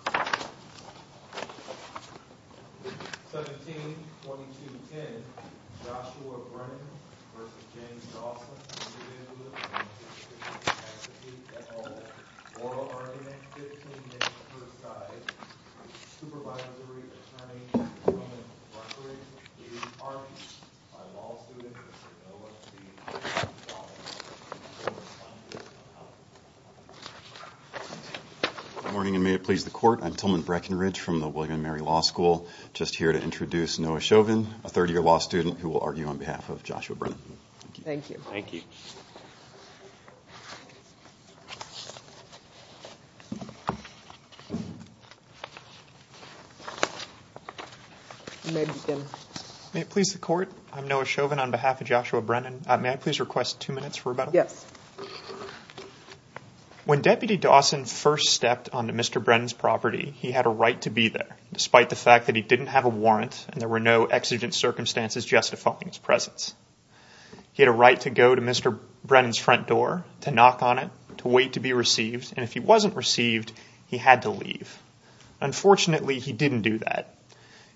17-22-10 Joshua Brennan v. James Dawson Attitude, et al. Oral argument, 15 minutes per side Supervisory, attorney, Department of Recreation, Police Department By law student, Mr. Noah T. Good morning and may it please the court, I'm Tillman Breckenridge from the William & Mary Law School. Just here to introduce Noah Chauvin, a third year law student who will argue on behalf of Joshua Brennan. Thank you. Thank you. May it please the court, I'm Noah Chauvin on behalf of Joshua Brennan. May I please request two minutes for rebuttal? Yes. When Deputy Dawson first stepped onto Mr. Brennan's property, he had a right to be there, despite the fact that he didn't have a warrant and there were no exigent circumstances justifying his presence. He had a right to go to Mr. Brennan's front door, to knock on it, to wait to be received, and if he wasn't received, he had to leave. Unfortunately, he didn't do that.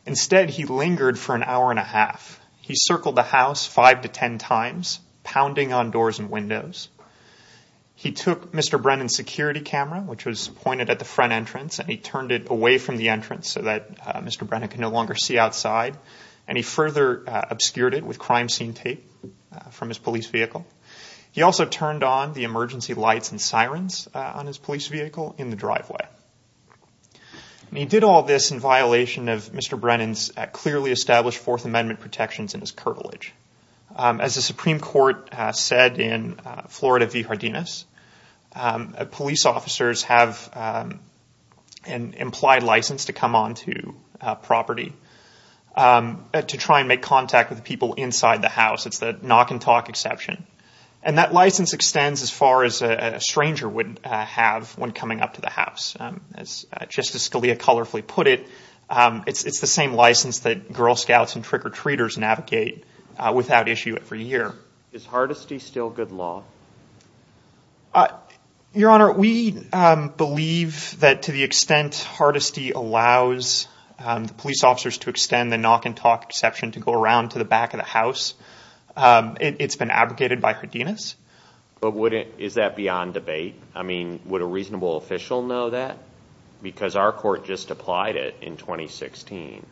Instead, he lingered for an hour and a half. He circled the house five to ten times, pounding on doors and windows. He took Mr. Brennan's security camera, which was pointed at the front entrance, and he turned it away from the entrance so that Mr. Brennan could no longer see outside, and he further obscured it with crime scene tape from his police vehicle. He also turned on the emergency lights and sirens on his police vehicle in the driveway. He did all this in violation of Mr. Brennan's clearly established Fourth Amendment protections and his curvilage. As the Supreme Court said in Florida v. Jardines, police officers have an implied license to come onto property to try and make contact with people inside the house. It's the knock and talk exception, and that license extends as far as a stranger would have when coming up to the house. Just as Scalia colorfully put it, it's the same license that Girl Scouts and trick-or-treaters navigate without issue every year. Is Hardesty still good law? Your Honor, we believe that to the extent Hardesty allows the police officers to extend the knock and talk exception to go around to the back of the house, it's been abrogated by Jardines. But is that beyond debate? I mean, would a reasonable official know that? Because our court just applied it in 2016.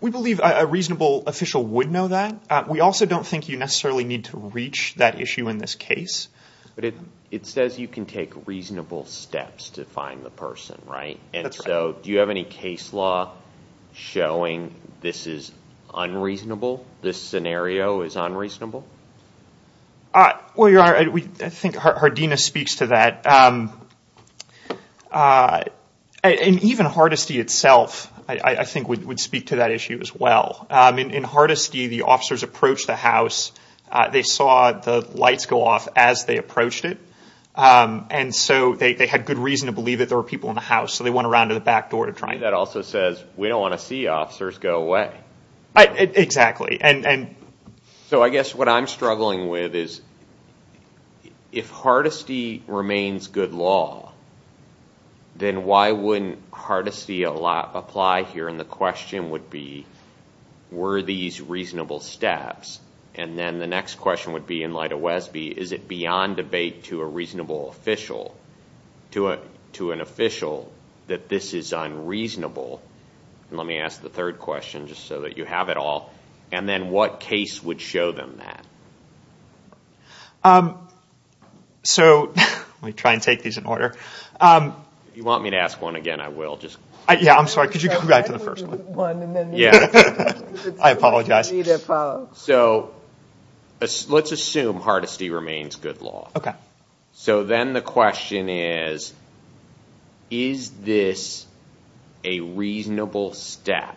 We believe a reasonable official would know that. We also don't think you necessarily need to reach that issue in this case. But it says you can take reasonable steps to find the person, right? That's right. And so do you have any case law showing this is unreasonable, this scenario is unreasonable? Well, Your Honor, I think Jardines speaks to that. And even Hardesty itself, I think, would speak to that issue as well. In Hardesty, the officers approached the house. They saw the lights go off as they approached it, and so they had good reason to believe that there were people in the house, so they went around to the back door to try and get in. That also says we don't want to see officers go away. Exactly. So I guess what I'm struggling with is if Hardesty remains good law, then why wouldn't Hardesty apply here? And the question would be were these reasonable steps? And then the next question would be, in light of Wesby, is it beyond debate to a reasonable official, to an official, that this is unreasonable? And let me ask the third question just so that you have it all. And then what case would show them that? So let me try and take these in order. If you want me to ask one again, I will. Yeah, I'm sorry. Could you go back to the first one? Yeah. I apologize. So let's assume Hardesty remains good law. Okay. So then the question is, is this a reasonable step?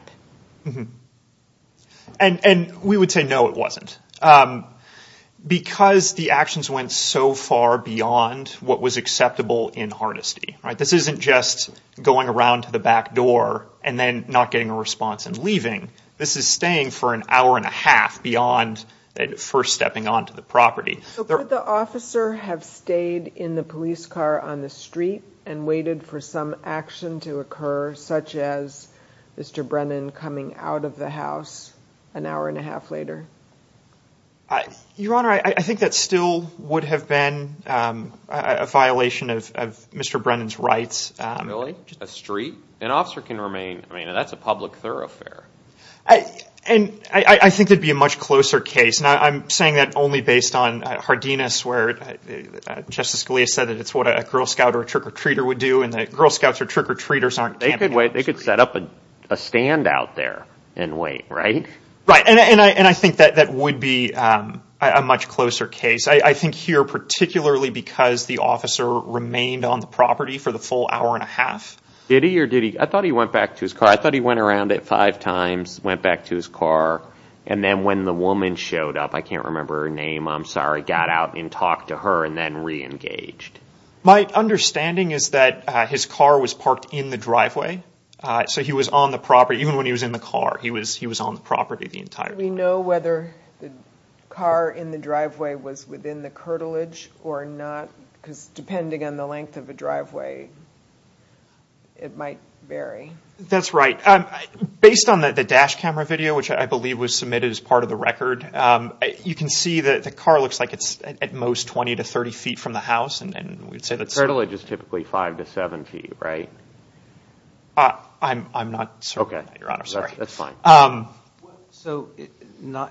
And we would say no, it wasn't. Because the actions went so far beyond what was acceptable in Hardesty. This isn't just going around to the back door and then not getting a response and leaving. This is staying for an hour and a half beyond first stepping onto the property. So could the officer have stayed in the police car on the street and waited for some action to occur, such as Mr. Brennan coming out of the house an hour and a half later? Your Honor, I think that still would have been a violation of Mr. Brennan's rights. Really? Just a street? An officer can remain. I mean, that's a public thoroughfare. And I think it would be a much closer case. And I'm saying that only based on Hardina's word. Justice Scalia said that it's what a Girl Scout or a trick-or-treater would do. And the Girl Scouts or trick-or-treaters aren't. They could set up a stand out there and wait, right? Right. And I think that would be a much closer case. I think here particularly because the officer remained on the property for the full hour and a half. Did he or did he? I thought he went back to his car. I thought he went around it five times, went back to his car. And then when the woman showed up, I can't remember her name, I'm sorry, got out and talked to her and then reengaged. My understanding is that his car was parked in the driveway. So he was on the property. Even when he was in the car, he was on the property the entire time. Do we know whether the car in the driveway was within the curtilage or not? Because depending on the length of the driveway, it might vary. That's right. Based on the dash camera video, which I believe was submitted as part of the record, you can see that the car looks like it's at most 20 to 30 feet from the house. The curtilage is typically 5 to 7 feet, right? I'm not certain, Your Honor. That's fine. So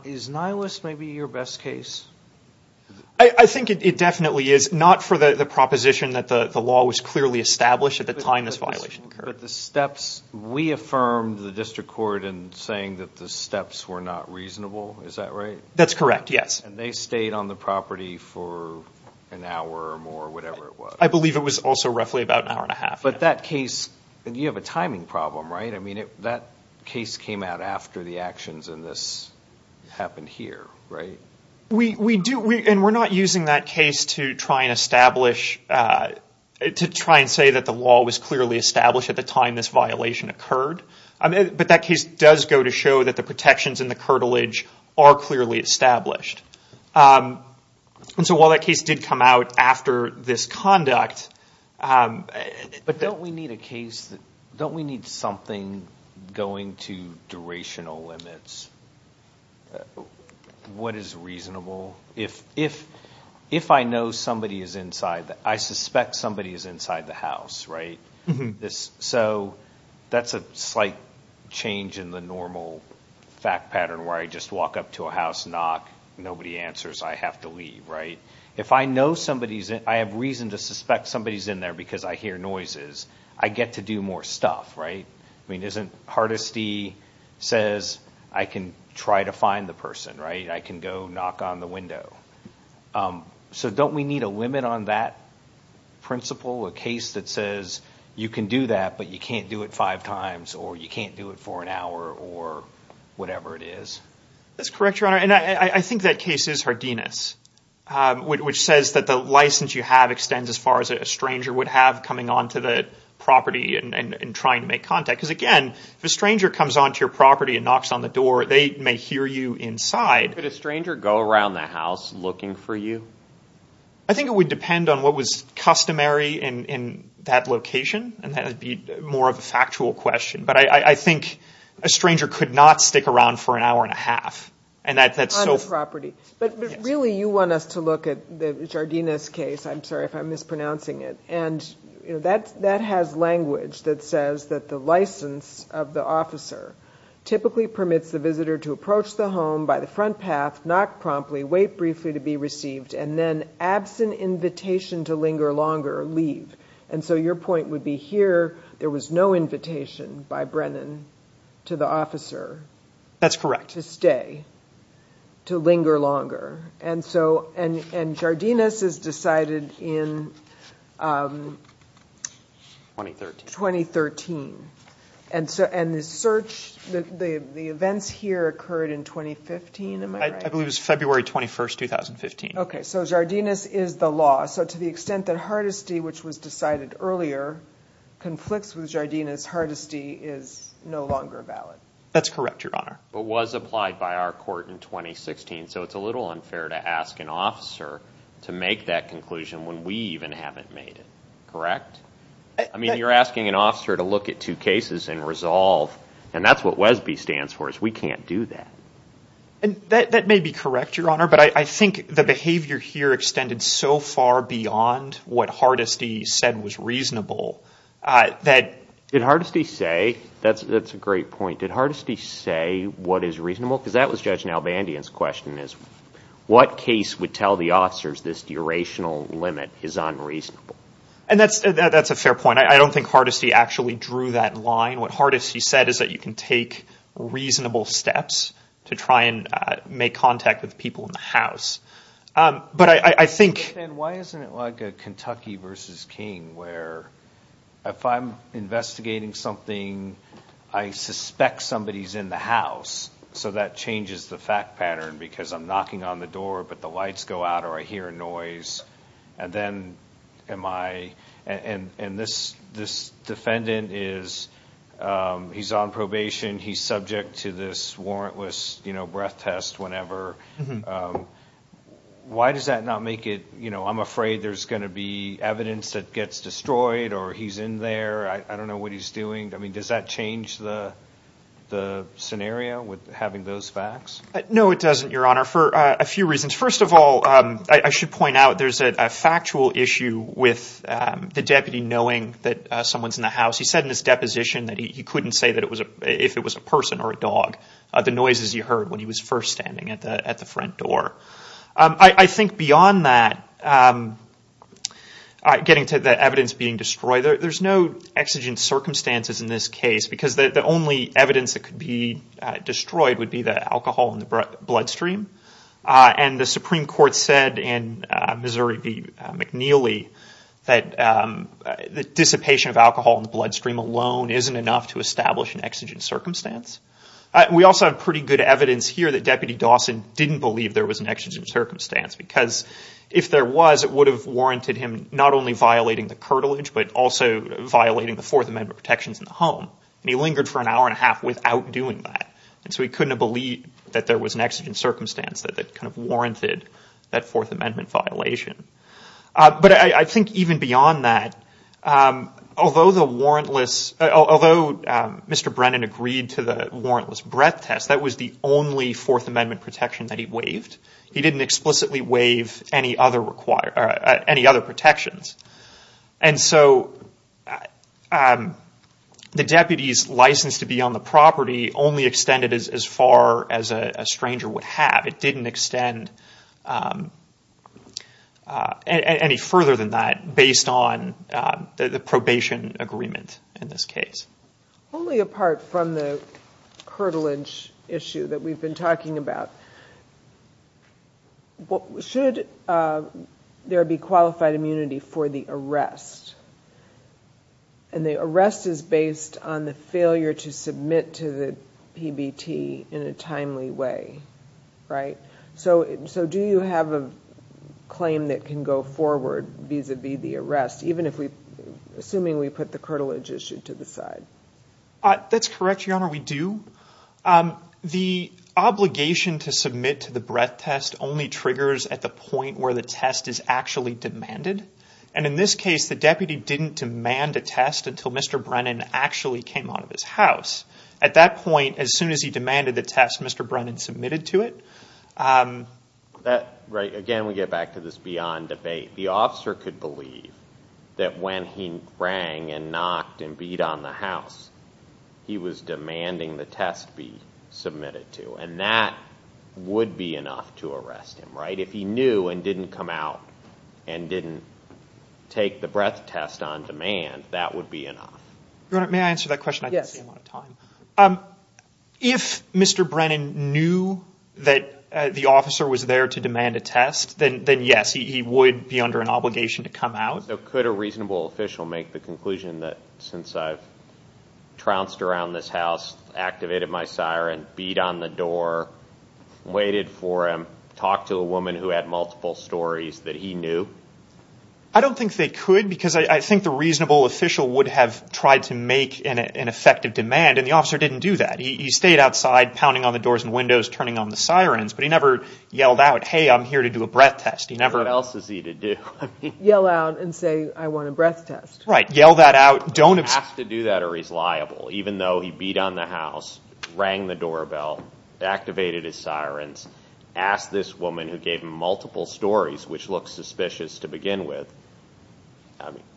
is Nihilus maybe your best case? I think it definitely is. Not for the proposition that the law was clearly established at the time this violation occurred. But the steps, we affirmed the district court in saying that the steps were not reasonable. Is that right? That's correct, yes. And they stayed on the property for an hour or more, whatever it was. I believe it was also roughly about an hour and a half. But that case, you have a timing problem, right? I mean, that case came out after the actions and this happened here, right? We do, and we're not using that case to try and establish, to try and say that the law was clearly established at the time this violation occurred. But that case does go to show that the protections in the curtilage are clearly established. And so while that case did come out after this conduct. But don't we need a case, don't we need something going to durational limits? What is reasonable? If I know somebody is inside, I suspect somebody is inside the house, right? So that's a slight change in the normal fact pattern where I just walk up to a house, knock, nobody answers, I have to leave, right? If I know somebody's in, I have reason to suspect somebody's in there because I hear noises, I get to do more stuff, right? I mean, isn't Hardesty says I can try to find the person, right? I can go knock on the window. So don't we need a limit on that principle, a case that says you can do that, but you can't do it five times or you can't do it for an hour or whatever it is? That's correct, Your Honor. And I think that case is Hardenas, which says that the license you have extends as far as a stranger would have coming onto the property and trying to make contact because, again, if a stranger comes onto your property and knocks on the door, they may hear you inside. Could a stranger go around the house looking for you? I think it would depend on what was customary in that location, and that would be more of a factual question. But I think a stranger could not stick around for an hour and a half. On the property. But really you want us to look at the Hardenas case. I'm sorry if I'm mispronouncing it. And, you know, that has language that says that the license of the officer typically permits the visitor to approach the home by the front path, knock promptly, wait briefly to be received, and then absent invitation to linger longer, leave. And so your point would be here there was no invitation by Brennan to the officer to stay, to linger longer. And Jardines is decided in 2013. And the search, the events here occurred in 2015, am I right? I believe it was February 21, 2015. Okay, so Jardines is the law. So to the extent that Hardesty, which was decided earlier, conflicts with Jardines, Hardesty is no longer valid. That's correct, Your Honor. But was applied by our court in 2016. So it's a little unfair to ask an officer to make that conclusion when we even haven't made it. Correct? I mean, you're asking an officer to look at two cases and resolve, and that's what WESB stands for is we can't do that. That may be correct, Your Honor, but I think the behavior here extended so far beyond what Hardesty said was reasonable. Did Hardesty say, that's a great point, did Hardesty say what is reasonable? Because that was Judge Nalbandian's question is, what case would tell the officers this durational limit is unreasonable? And that's a fair point. I don't think Hardesty actually drew that line. What Hardesty said is that you can take reasonable steps to try and make contact with people in the house. But I think— And why isn't it like a Kentucky versus King where if I'm investigating something, I suspect somebody's in the house, so that changes the fact pattern because I'm knocking on the door, but the lights go out or I hear a noise, and then am I— and this defendant is, he's on probation, he's subject to this warrantless breath test whenever. Why does that not make it, you know, I'm afraid there's going to be evidence that gets destroyed or he's in there, I don't know what he's doing. I mean, does that change the scenario with having those facts? No, it doesn't, Your Honor, for a few reasons. First of all, I should point out there's a factual issue with the deputy knowing that someone's in the house. He said in his deposition that he couldn't say if it was a person or a dog, the noises he heard when he was first standing at the front door. I think beyond that, getting to the evidence being destroyed, there's no exigent circumstances in this case because the only evidence that could be destroyed would be the alcohol in the bloodstream. And the Supreme Court said in Missouri v. McNeely that the dissipation of alcohol in the bloodstream alone isn't enough to establish an exigent circumstance. We also have pretty good evidence here that Deputy Dawson didn't believe there was an exigent circumstance because if there was, it would have warranted him not only violating the curtilage, but also violating the Fourth Amendment protections in the home. And he lingered for an hour and a half without doing that. And so he couldn't have believed that there was an exigent circumstance that kind of warranted that Fourth Amendment violation. But I think even beyond that, although Mr. Brennan agreed to the warrantless breath test, that was the only Fourth Amendment protection that he waived. He didn't explicitly waive any other protections. And so the deputy's license to be on the property only extended as far as a stranger would have. It didn't extend any further than that based on the probation agreement in this case. Only apart from the curtilage issue that we've been talking about. Should there be qualified immunity for the arrest? And the arrest is based on the failure to submit to the PBT in a timely way, right? So do you have a claim that can go forward vis-a-vis the arrest, even if we, assuming we put the curtilage issue to the side? That's correct, Your Honor, we do. The obligation to submit to the breath test only triggers at the point where the test is actually demanded. And in this case, the deputy didn't demand a test until Mr. Brennan actually came out of his house. At that point, as soon as he demanded the test, Mr. Brennan submitted to it. Again, we get back to this beyond debate. The officer could believe that when he rang and knocked and beat on the house, he was demanding the test be submitted to. And that would be enough to arrest him, right? If he knew and didn't come out and didn't take the breath test on demand, that would be enough. Your Honor, may I answer that question? Yes. If Mr. Brennan knew that the officer was there to demand a test, then yes, he would be under an obligation to come out. So could a reasonable official make the conclusion that since I've trounced around this house, activated my siren, beat on the door, waited for him, talked to a woman who had multiple stories that he knew? I don't think they could because I think the reasonable official would have tried to make an effective demand, and the officer didn't do that. He stayed outside, pounding on the doors and windows, turning on the sirens, but he never yelled out, hey, I'm here to do a breath test. What else is he to do? Yell out and say I want a breath test. Right. Yell that out. He has to do that or he's liable. Even though he beat on the house, rang the doorbell, activated his sirens, asked this woman who gave him multiple stories, which looks suspicious to begin with.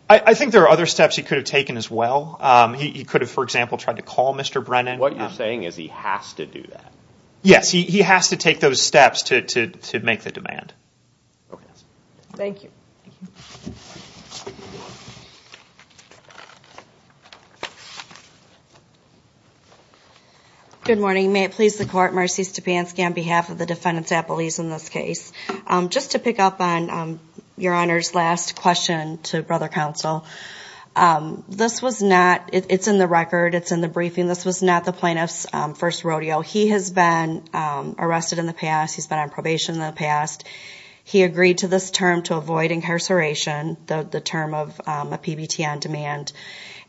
I think there are other steps he could have taken as well. He could have, for example, tried to call Mr. Brennan. What you're saying is he has to do that. Yes, he has to take those steps to make the demand. Okay. Thank you. Good morning. May it please the Court. Marcy Stepanski on behalf of the defendants at Belize in this case. Just to pick up on Your Honor's last question to Brother Counsel, this was not, it's in the record, it's in the briefing, this was not the plaintiff's first rodeo. He has been arrested in the past. He's been on probation in the past. He agreed to this term to avoid incarceration, the term of a PBT on demand.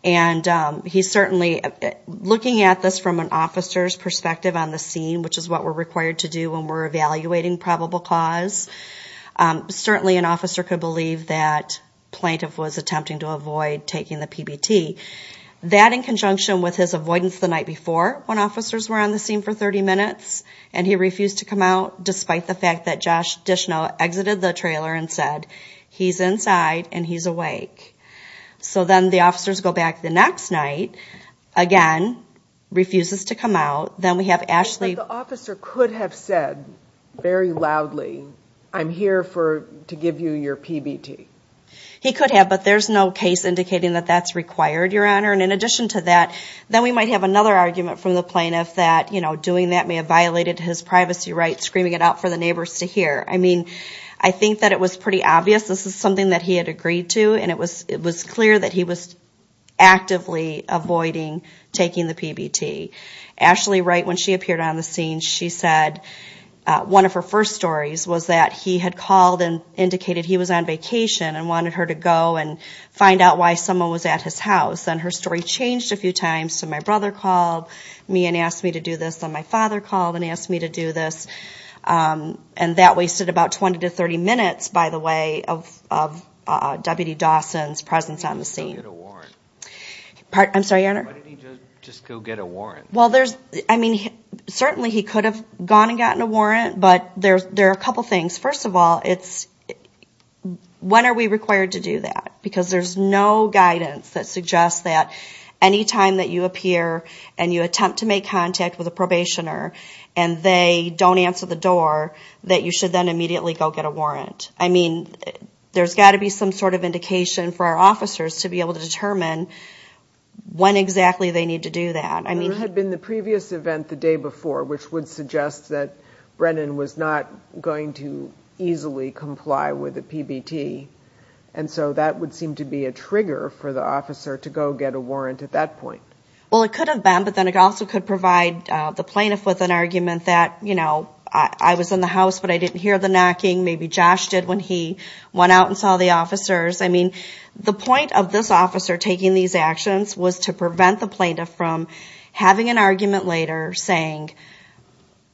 And he certainly, looking at this from an officer's perspective on the scene, which is what we're required to do when we're evaluating probable cause, certainly an officer could believe that plaintiff was attempting to avoid taking the PBT. That in conjunction with his avoidance the night before when officers were on the scene for 30 minutes and he refused to come out despite the fact that Josh Dishnell exited the trailer and said, he's inside and he's awake. So then the officers go back the next night, again, refuses to come out. Then we have Ashley. But the officer could have said very loudly, I'm here to give you your PBT. He could have, but there's no case indicating that that's required, Your Honor. And in addition to that, then we might have another argument from the plaintiff that, you know, doing that may have violated his privacy rights, screaming it out for the neighbors to hear. I mean, I think that it was pretty obvious this is something that he had agreed to, and it was clear that he was actively avoiding taking the PBT. Ashley Wright, when she appeared on the scene, she said one of her first stories was that he had called and indicated he was on vacation and wanted her to go and find out why someone was at his house. Then her story changed a few times. So my brother called me and asked me to do this. Then my father called and asked me to do this. And that wasted about 20 to 30 minutes, by the way, of Deputy Dawson's presence on the scene. Why didn't he just go get a warrant? I mean, certainly he could have gone and gotten a warrant, but there are a couple things. First of all, when are we required to do that? Because there's no guidance that suggests that any time that you appear and you attempt to make contact with a probationer and they don't answer the door, that you should then immediately go get a warrant. I mean, there's got to be some sort of indication for our officers to be able to determine when exactly they need to do that. There had been the previous event the day before, which would suggest that Brennan was not going to easily comply with a PBT. And so that would seem to be a trigger for the officer to go get a warrant at that point. Well, it could have been, but then it also could provide the plaintiff with an argument that, you know, I was in the house but I didn't hear the knocking. Maybe Josh did when he went out and saw the officers. I mean, the point of this officer taking these actions was to prevent the plaintiff from having an argument later saying,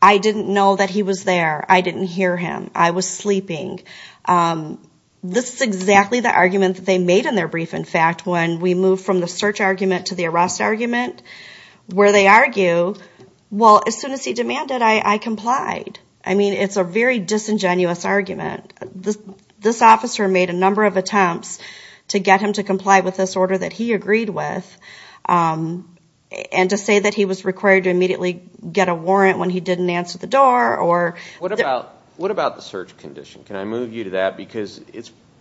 I didn't know that he was there. I didn't hear him. I was sleeping. This is exactly the argument that they made in their brief, in fact, when we moved from the search argument to the arrest argument, where they argue, well, as soon as he demanded, I complied. I mean, it's a very disingenuous argument. This officer made a number of attempts to get him to comply with this order that he agreed with and to say that he was required to immediately get a warrant when he didn't answer the door. What about the search condition? Can I move you to that? Because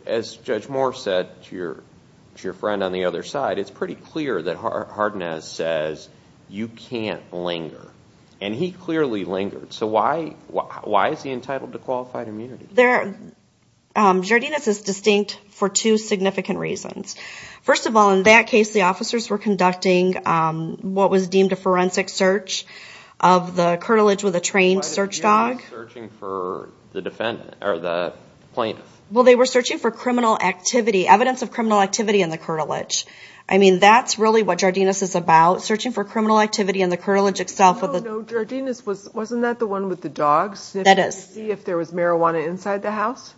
as Judge Moore said to your friend on the other side, it's pretty clear that Hardinaz says you can't linger. And he clearly lingered. So why is he entitled to qualified immunity? Jardines is distinct for two significant reasons. First of all, in that case, the officers were conducting what was deemed a forensic search of the curtilage with a trained search dog. But they were not searching for the plaintiff. Well, they were searching for criminal activity, evidence of criminal activity in the curtilage. I mean, that's really what Jardines is about, searching for criminal activity in the curtilage itself. No, no, Jardines, wasn't that the one with the dogs? That is. To see if there was marijuana inside the house?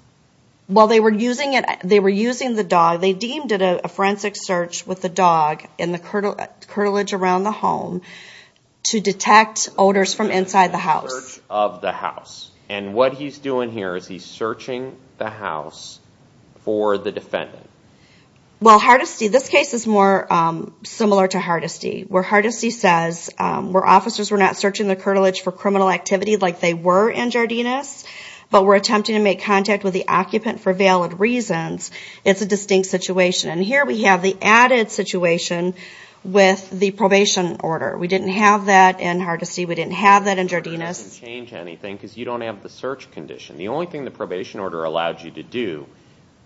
Well, they were using the dog. To detect odors from inside the house. Search of the house. And what he's doing here is he's searching the house for the defendant. Well, Hardinaz, this case is more similar to Hardinaz, where Hardinaz says, where officers were not searching the curtilage for criminal activity like they were in Jardines, but were attempting to make contact with the occupant for valid reasons, it's a distinct situation. And here we have the added situation with the probation order. We didn't have that in Hardinaz. We didn't have that in Jardines. It doesn't change anything because you don't have the search condition. The only thing the probation order allowed you to do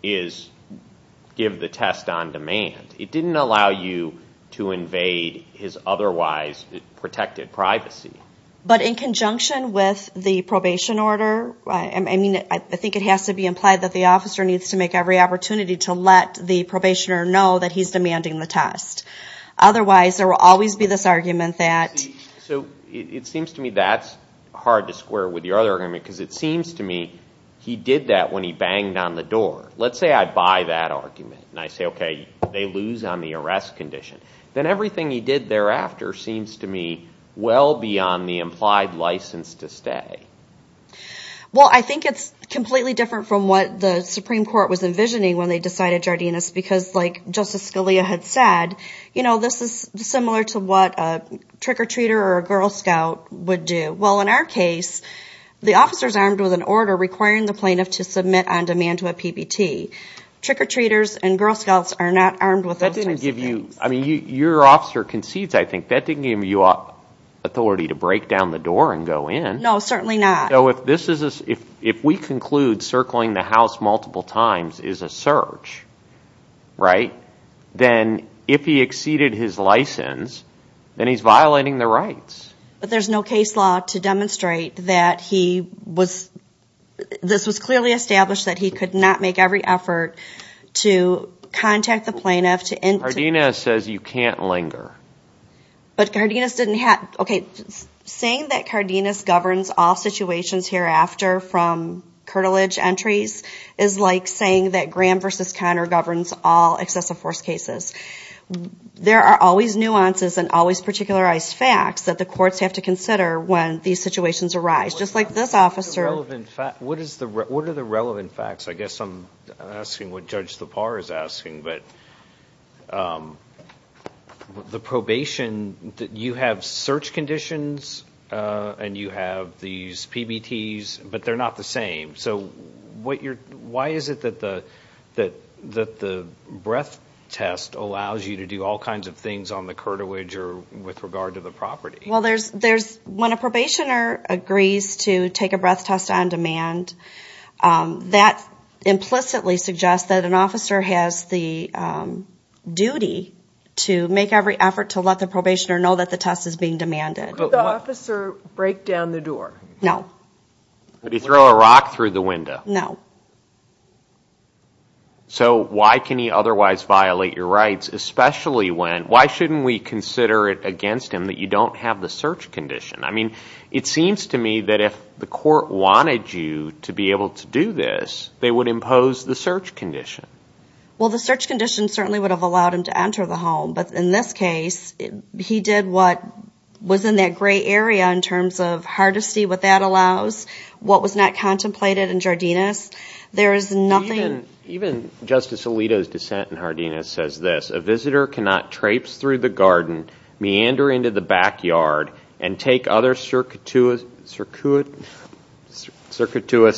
is give the test on demand. It didn't allow you to invade his otherwise protected privacy. But in conjunction with the probation order, I mean, I think it has to be implied that the officer needs to make every opportunity to let the probationer know that he's demanding the test. Otherwise, there will always be this argument that... So it seems to me that's hard to square with your other argument, because it seems to me he did that when he banged on the door. Let's say I buy that argument and I say, okay, they lose on the arrest condition. Then everything he did thereafter seems to me well beyond the implied license to stay. Well, I think it's completely different from what the Supreme Court was envisioning when they decided Jardinez, because like Justice Scalia had said, you know, this is similar to what a trick-or-treater or a Girl Scout would do. Well, in our case, the officer is armed with an order requiring the plaintiff to submit on demand to a PBT. Trick-or-treaters and Girl Scouts are not armed with those types of things. That didn't give you, I mean, your officer concedes, I think, that didn't give you authority to break down the door and go in. No, certainly not. So if we conclude circling the house multiple times is a search, right, then if he exceeded his license, then he's violating the rights. But there's no case law to demonstrate that he was, this was clearly established that he could not make every effort to contact the plaintiff to... Jardinez says you can't linger. But Jardinez didn't have, okay, saying that Jardinez governs all situations hereafter from curtilage entries is like saying that Graham v. Conner governs all excessive force cases. There are always nuances and always particularized facts that the courts have to consider when these situations arise. Just like this officer... What are the relevant facts? I guess I'm asking what Judge Lepar is asking, but the probation, you have search conditions and you have these PBTs, but they're not the same. So why is it that the breath test allows you to do all kinds of things on the curtilage or with regard to the property? Well, there's, when a probationer agrees to take a breath test on demand, that implicitly suggests that an officer has the duty to make every effort to let the probationer know that the test is being demanded. Could the officer break down the door? No. Could he throw a rock through the window? No. So why can he otherwise violate your rights, why shouldn't we consider it against him that you don't have the search condition? I mean, it seems to me that if the court wanted you to be able to do this, they would impose the search condition. Well, the search condition certainly would have allowed him to enter the home, but in this case, he did what was in that gray area in terms of hardesty, what that allows, what was not contemplated in Jardines. Even Justice Alito's dissent in Jardines says this, a visitor cannot traipse through the garden, meander into the backyard, and take other circuitous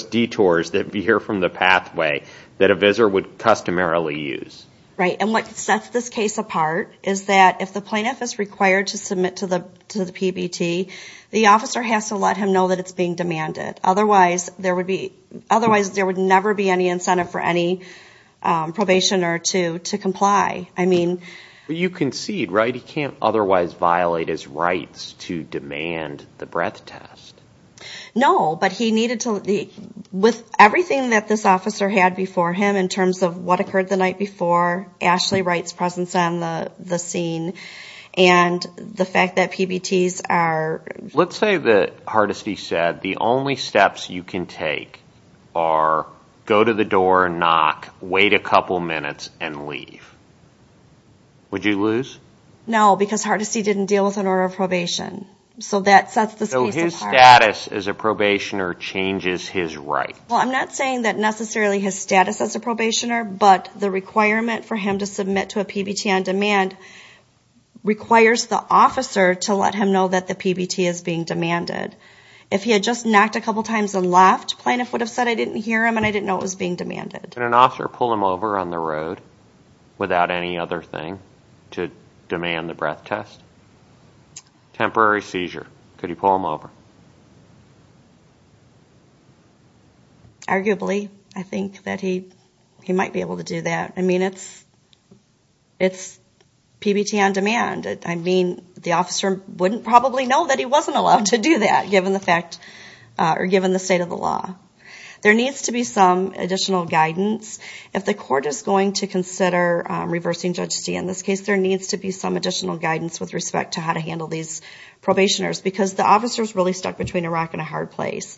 detours that veer from the pathway that a visitor would customarily use. Right, and what sets this case apart is that if the plaintiff is required to submit to the PBT, the officer has to let him know that it's being demanded. Otherwise, there would never be any incentive for any probationer to comply. You concede, right, he can't otherwise violate his rights to demand the breath test. No, but he needed to, with everything that this officer had before him in terms of what occurred the night before, Ashley Wright's presence on the scene, and the fact that PBTs are... Let's say that, hardesty said, the only steps you can take are go to the door, knock, wait a couple minutes, and leave. Would you lose? No, because hardesty didn't deal with an order of probation. So that sets this case apart. So his status as a probationer changes his rights. Well, I'm not saying that necessarily his status as a probationer, but the requirement for him to submit to a PBT on demand requires the officer to let him know that the PBT is being demanded. If he had just knocked a couple times and left, plaintiff would have said, I didn't hear him and I didn't know it was being demanded. Could an officer pull him over on the road without any other thing to demand the breath test? Temporary seizure, could you pull him over? Arguably, I think that he might be able to do that. I mean, it's PBT on demand. I mean, the officer wouldn't probably know that he wasn't allowed to do that, given the state of the law. There needs to be some additional guidance. If the court is going to consider reversing Judge Stee, in this case, there needs to be some additional guidance with respect to how to handle these probationers, because the officer is really stuck between a rock and a hard place.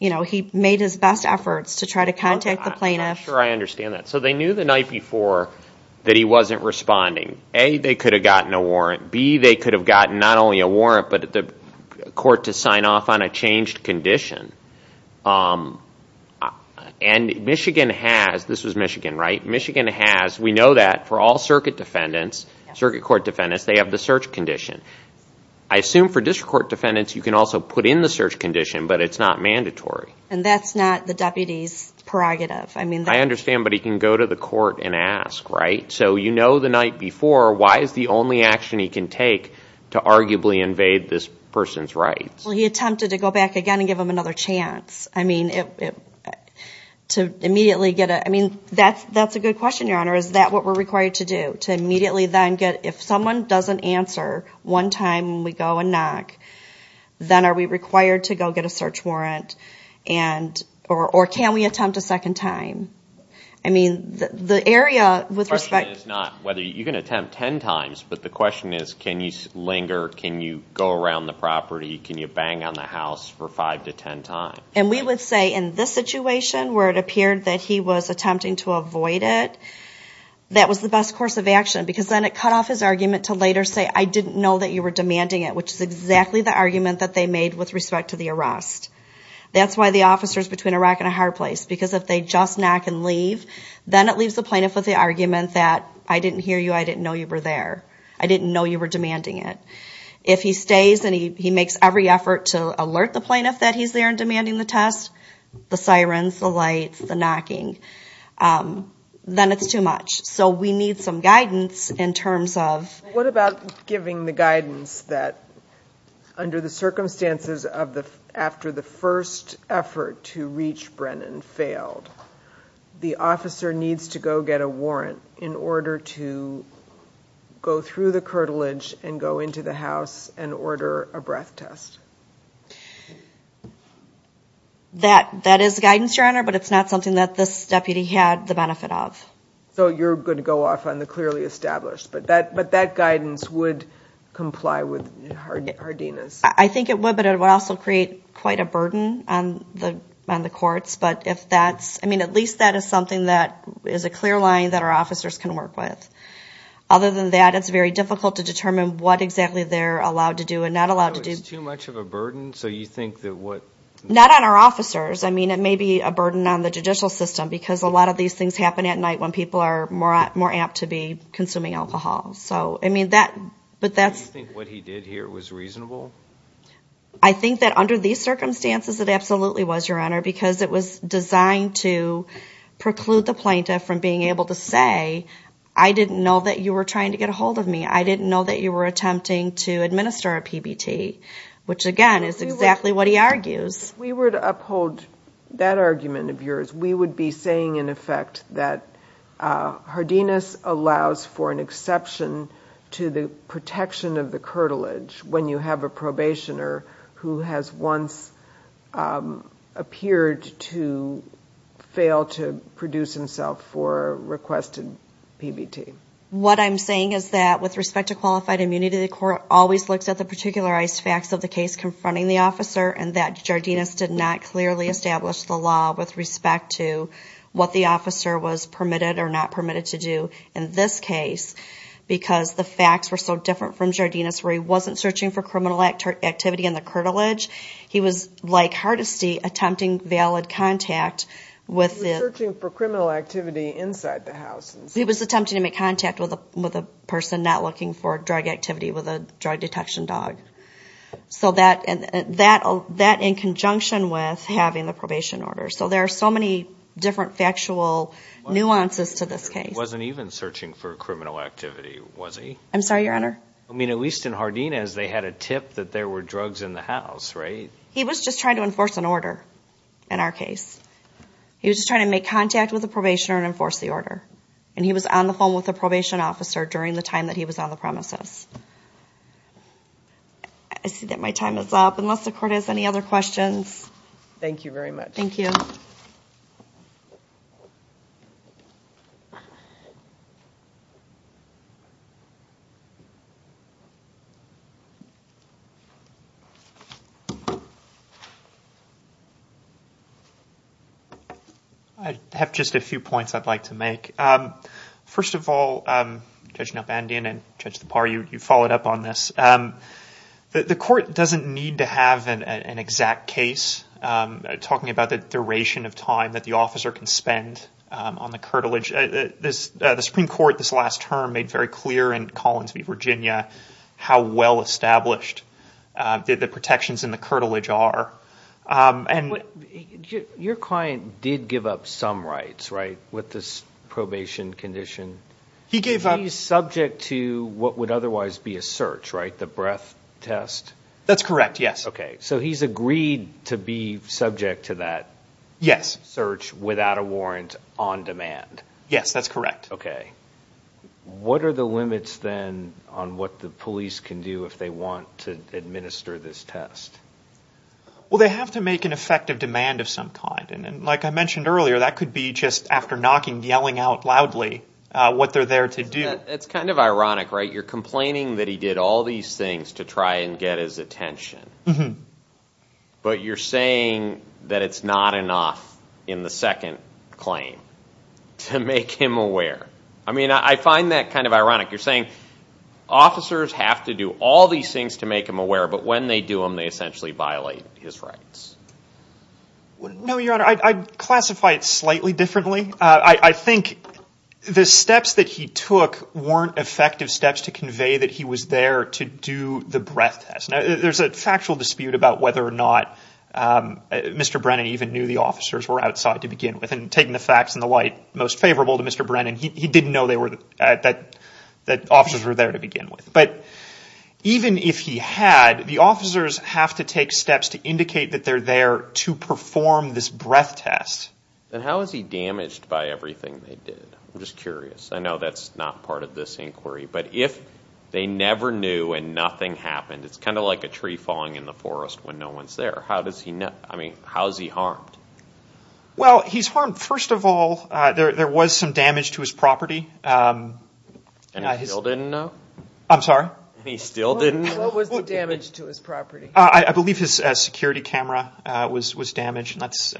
He made his best efforts to try to contact the plaintiff. I'm sure I understand that. So they knew the night before that he wasn't responding. A, they could have gotten a warrant. B, they could have gotten not only a warrant, but the court to sign off on a changed condition. And Michigan has, this was Michigan, right? Michigan has, we know that for all circuit court defendants, they have the search condition. I assume for district court defendants, you can also put in the search condition, but it's not mandatory. And that's not the deputy's prerogative. I understand, but he can go to the court and ask, right? So you know the night before, why is the only action he can take to arguably invade this person's rights? Well, he attempted to go back again and give him another chance. I mean, to immediately get a, I mean, that's a good question, Your Honor. Is that what we're required to do, to immediately then get, if someone doesn't answer one time when we go and knock, then are we required to go get a search warrant, or can we attempt a second time? I mean, the area with respect to... The question is not whether, you can attempt ten times, but the question is, can you linger, can you go around the property, can you bang on the house for five to ten times? And we would say in this situation, where it appeared that he was attempting to avoid it, that was the best course of action, because then it cut off his argument to later say, I didn't know that you were demanding it, which is exactly the argument that they made with respect to the arrest. That's why the officers between a rack and a hard place, because if they just knock and leave, then it leaves the plaintiff with the argument that, I didn't hear you, I didn't know you were there, I didn't know you were demanding it. If he stays and he makes every effort to alert the plaintiff that he's there and demanding the test, the sirens, the lights, the knocking, then it's too much. So we need some guidance in terms of... What about giving the guidance that under the circumstances of the, after the first effort to reach Brennan failed, the officer needs to go get a warrant in order to go through the curtilage and go into the house and order a breath test? That is guidance, Your Honor, but it's not something that this deputy had the benefit of. So you're going to go off on the clearly established, but that guidance would comply with Hardina's? I think it would, but it would also create quite a burden on the courts, but at least that is something that is a clear line that our officers can work with. Other than that, it's very difficult to determine what exactly they're allowed to do and not allowed to do. So it's too much of a burden? Not on our officers. I mean, it may be a burden on the judicial system because a lot of these things happen at night when people are more apt to be consuming alcohol. Do you think what he did here was reasonable? I think that under these circumstances it absolutely was, Your Honor, because it was designed to preclude the plaintiff from being able to say, I didn't know that you were trying to get a hold of me. I didn't know that you were attempting to administer a PBT, which again is exactly what he argues. If we were to uphold that argument of yours, we would be saying, in effect, that Hardina's allows for an exception to the protection of the curtilage when you have a probationer who has once appeared to fail to produce himself for a requested PBT. What I'm saying is that with respect to qualified immunity, the court always looks at the particularized facts of the case confronting the officer and that Jardinus did not clearly establish the law with respect to what the officer was permitted or not permitted to do in this case because the facts were so different from Jardinus where he wasn't searching for criminal activity in the curtilage. He was, like Hardesty, attempting valid contact with the- He was searching for criminal activity inside the house. He was attempting to make contact with a person not looking for drug activity with a drug detection dog. So that in conjunction with having the probation order. So there are so many different factual nuances to this case. He wasn't even searching for criminal activity, was he? I'm sorry, Your Honor? I mean, at least in Hardinus, they had a tip that there were drugs in the house, right? He was just trying to enforce an order in our case. He was just trying to make contact with the probationer and enforce the order. And he was on the phone with the probation officer during the time that he was on the premises. I see that my time is up. Unless the Court has any other questions? Thank you. I have just a few points I'd like to make. First of all, Judge Nopandian and Judge Thapar, you followed up on this. The Court doesn't need to have an exact case, talking about the duration of time that the officer can spend on the curtilage. The Supreme Court this last term made very clear in Collins v. Virginia how well-established the protections in the curtilage are. Your client did give up some rights, right, with this probation condition? He gave up. He's subject to what would otherwise be a search, right? The breath test? That's correct, yes. Okay, so he's agreed to be subject to that search without a warrant on demand. Yes, that's correct. Okay. What are the limits, then, on what the police can do if they want to administer this test? Well, they have to make an effective demand of some kind. Like I mentioned earlier, that could be just after knocking, yelling out loudly what they're there to do. It's kind of ironic, right? You're complaining that he did all these things to try and get his attention. But you're saying that it's not enough in the second claim to make him aware. I mean, I find that kind of ironic. You're saying officers have to do all these things to make him aware, but when they do them, they essentially violate his rights. No, Your Honor. I'd classify it slightly differently. I think the steps that he took weren't effective steps to convey that he was there to do the breath test. There's a factual dispute about whether or not Mr. Brennan even knew the officers were outside to begin with and taking the facts in the light most favorable to Mr. Brennan. He didn't know that officers were there to begin with. But even if he had, the officers have to take steps to indicate that they're there to perform this breath test. Then how is he damaged by everything they did? I'm just curious. I know that's not part of this inquiry. But if they never knew and nothing happened, it's kind of like a tree falling in the forest when no one's there. How is he harmed? Well, he's harmed, first of all, there was some damage to his property. And he still didn't know? I'm sorry? And he still didn't know? What was the damage to his property? I believe his security camera was damaged, and that's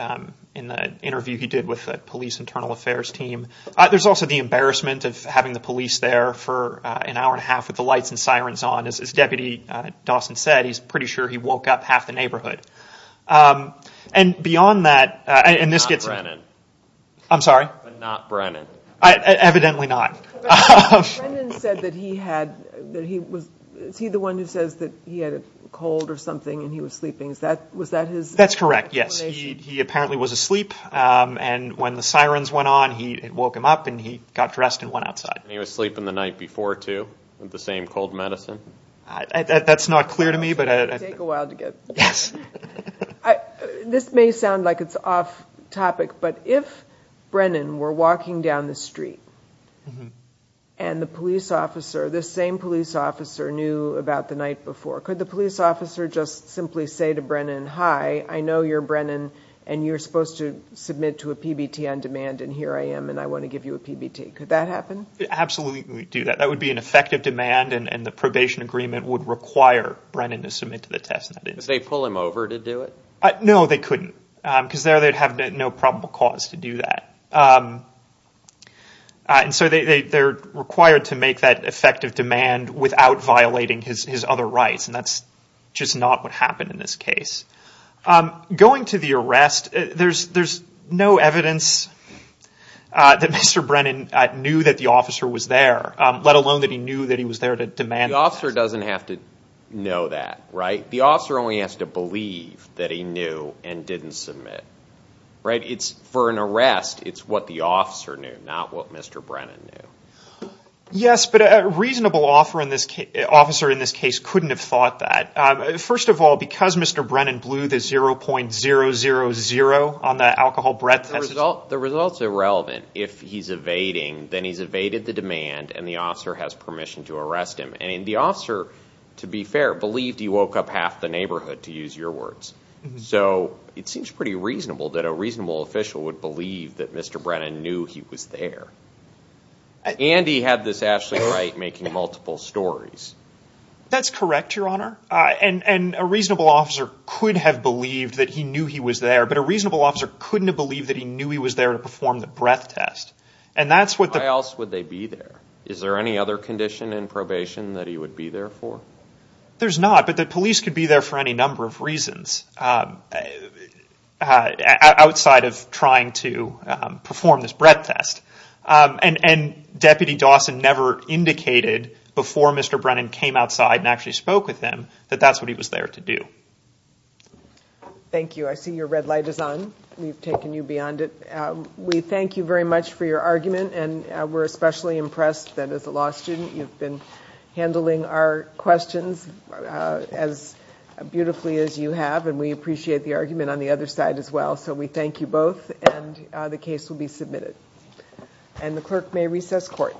in the interview he did with the police internal affairs team. There's also the embarrassment of having the police there for an hour and a half with the lights and sirens on. As Deputy Dawson said, he's pretty sure he woke up half the neighborhood. And beyond that, and this gets me. Not Brennan. I'm sorry? But not Brennan. Evidently not. Brennan said that he had, that he was, is he the one who says that he had a cold or something and he was sleeping? Was that his explanation? That's correct, yes. He apparently was asleep, and when the sirens went on, he woke him up and he got dressed and went outside. And he was sleeping the night before, too, with the same cold medicine? That's not clear to me. This may sound like it's off topic, but if Brennan were walking down the street and the police officer, the same police officer, knew about the night before, could the police officer just simply say to Brennan, hi, I know you're Brennan, and you're supposed to submit to a PBT on demand, and here I am, and I want to give you a PBT. Could that happen? Absolutely do that. That would be an effective demand, and the probation agreement would require Brennan to submit to the test. Could they pull him over to do it? No, they couldn't, because there they'd have no probable cause to do that. And so they're required to make that effective demand without violating his other rights, and that's just not what happened in this case. Going to the arrest, there's no evidence that Mr. Brennan knew that the officer was there, let alone that he knew that he was there to demand that. The officer doesn't have to know that, right? The officer only has to believe that he knew and didn't submit. For an arrest, it's what the officer knew, not what Mr. Brennan knew. Yes, but a reasonable officer in this case couldn't have thought that. First of all, because Mr. Brennan blew the 0.000 on the alcohol breath test. The result's irrelevant. If he's evading, then he's evaded the demand, and the officer has permission to arrest him. And the officer, to be fair, believed he woke up half the neighborhood, to use your words. So it seems pretty reasonable that a reasonable official would believe that Mr. Brennan knew he was there. And he had this absolutely right making multiple stories. That's correct, Your Honor. And a reasonable officer could have believed that he knew he was there, but a reasonable officer couldn't have believed that he knew he was there to perform the breath test. Why else would they be there? Is there any other condition in probation that he would be there for? There's not, but the police could be there for any number of reasons outside of trying to perform this breath test. And Deputy Dawson never indicated before Mr. Brennan came outside and actually spoke with him that that's what he was there to do. Thank you. I see your red light is on. We've taken you beyond it. We thank you very much for your argument, and we're especially impressed that, as a law student, you've been handling our questions as beautifully as you have, and we appreciate the argument on the other side as well. So we thank you both, and the case will be submitted. And the clerk may recess court.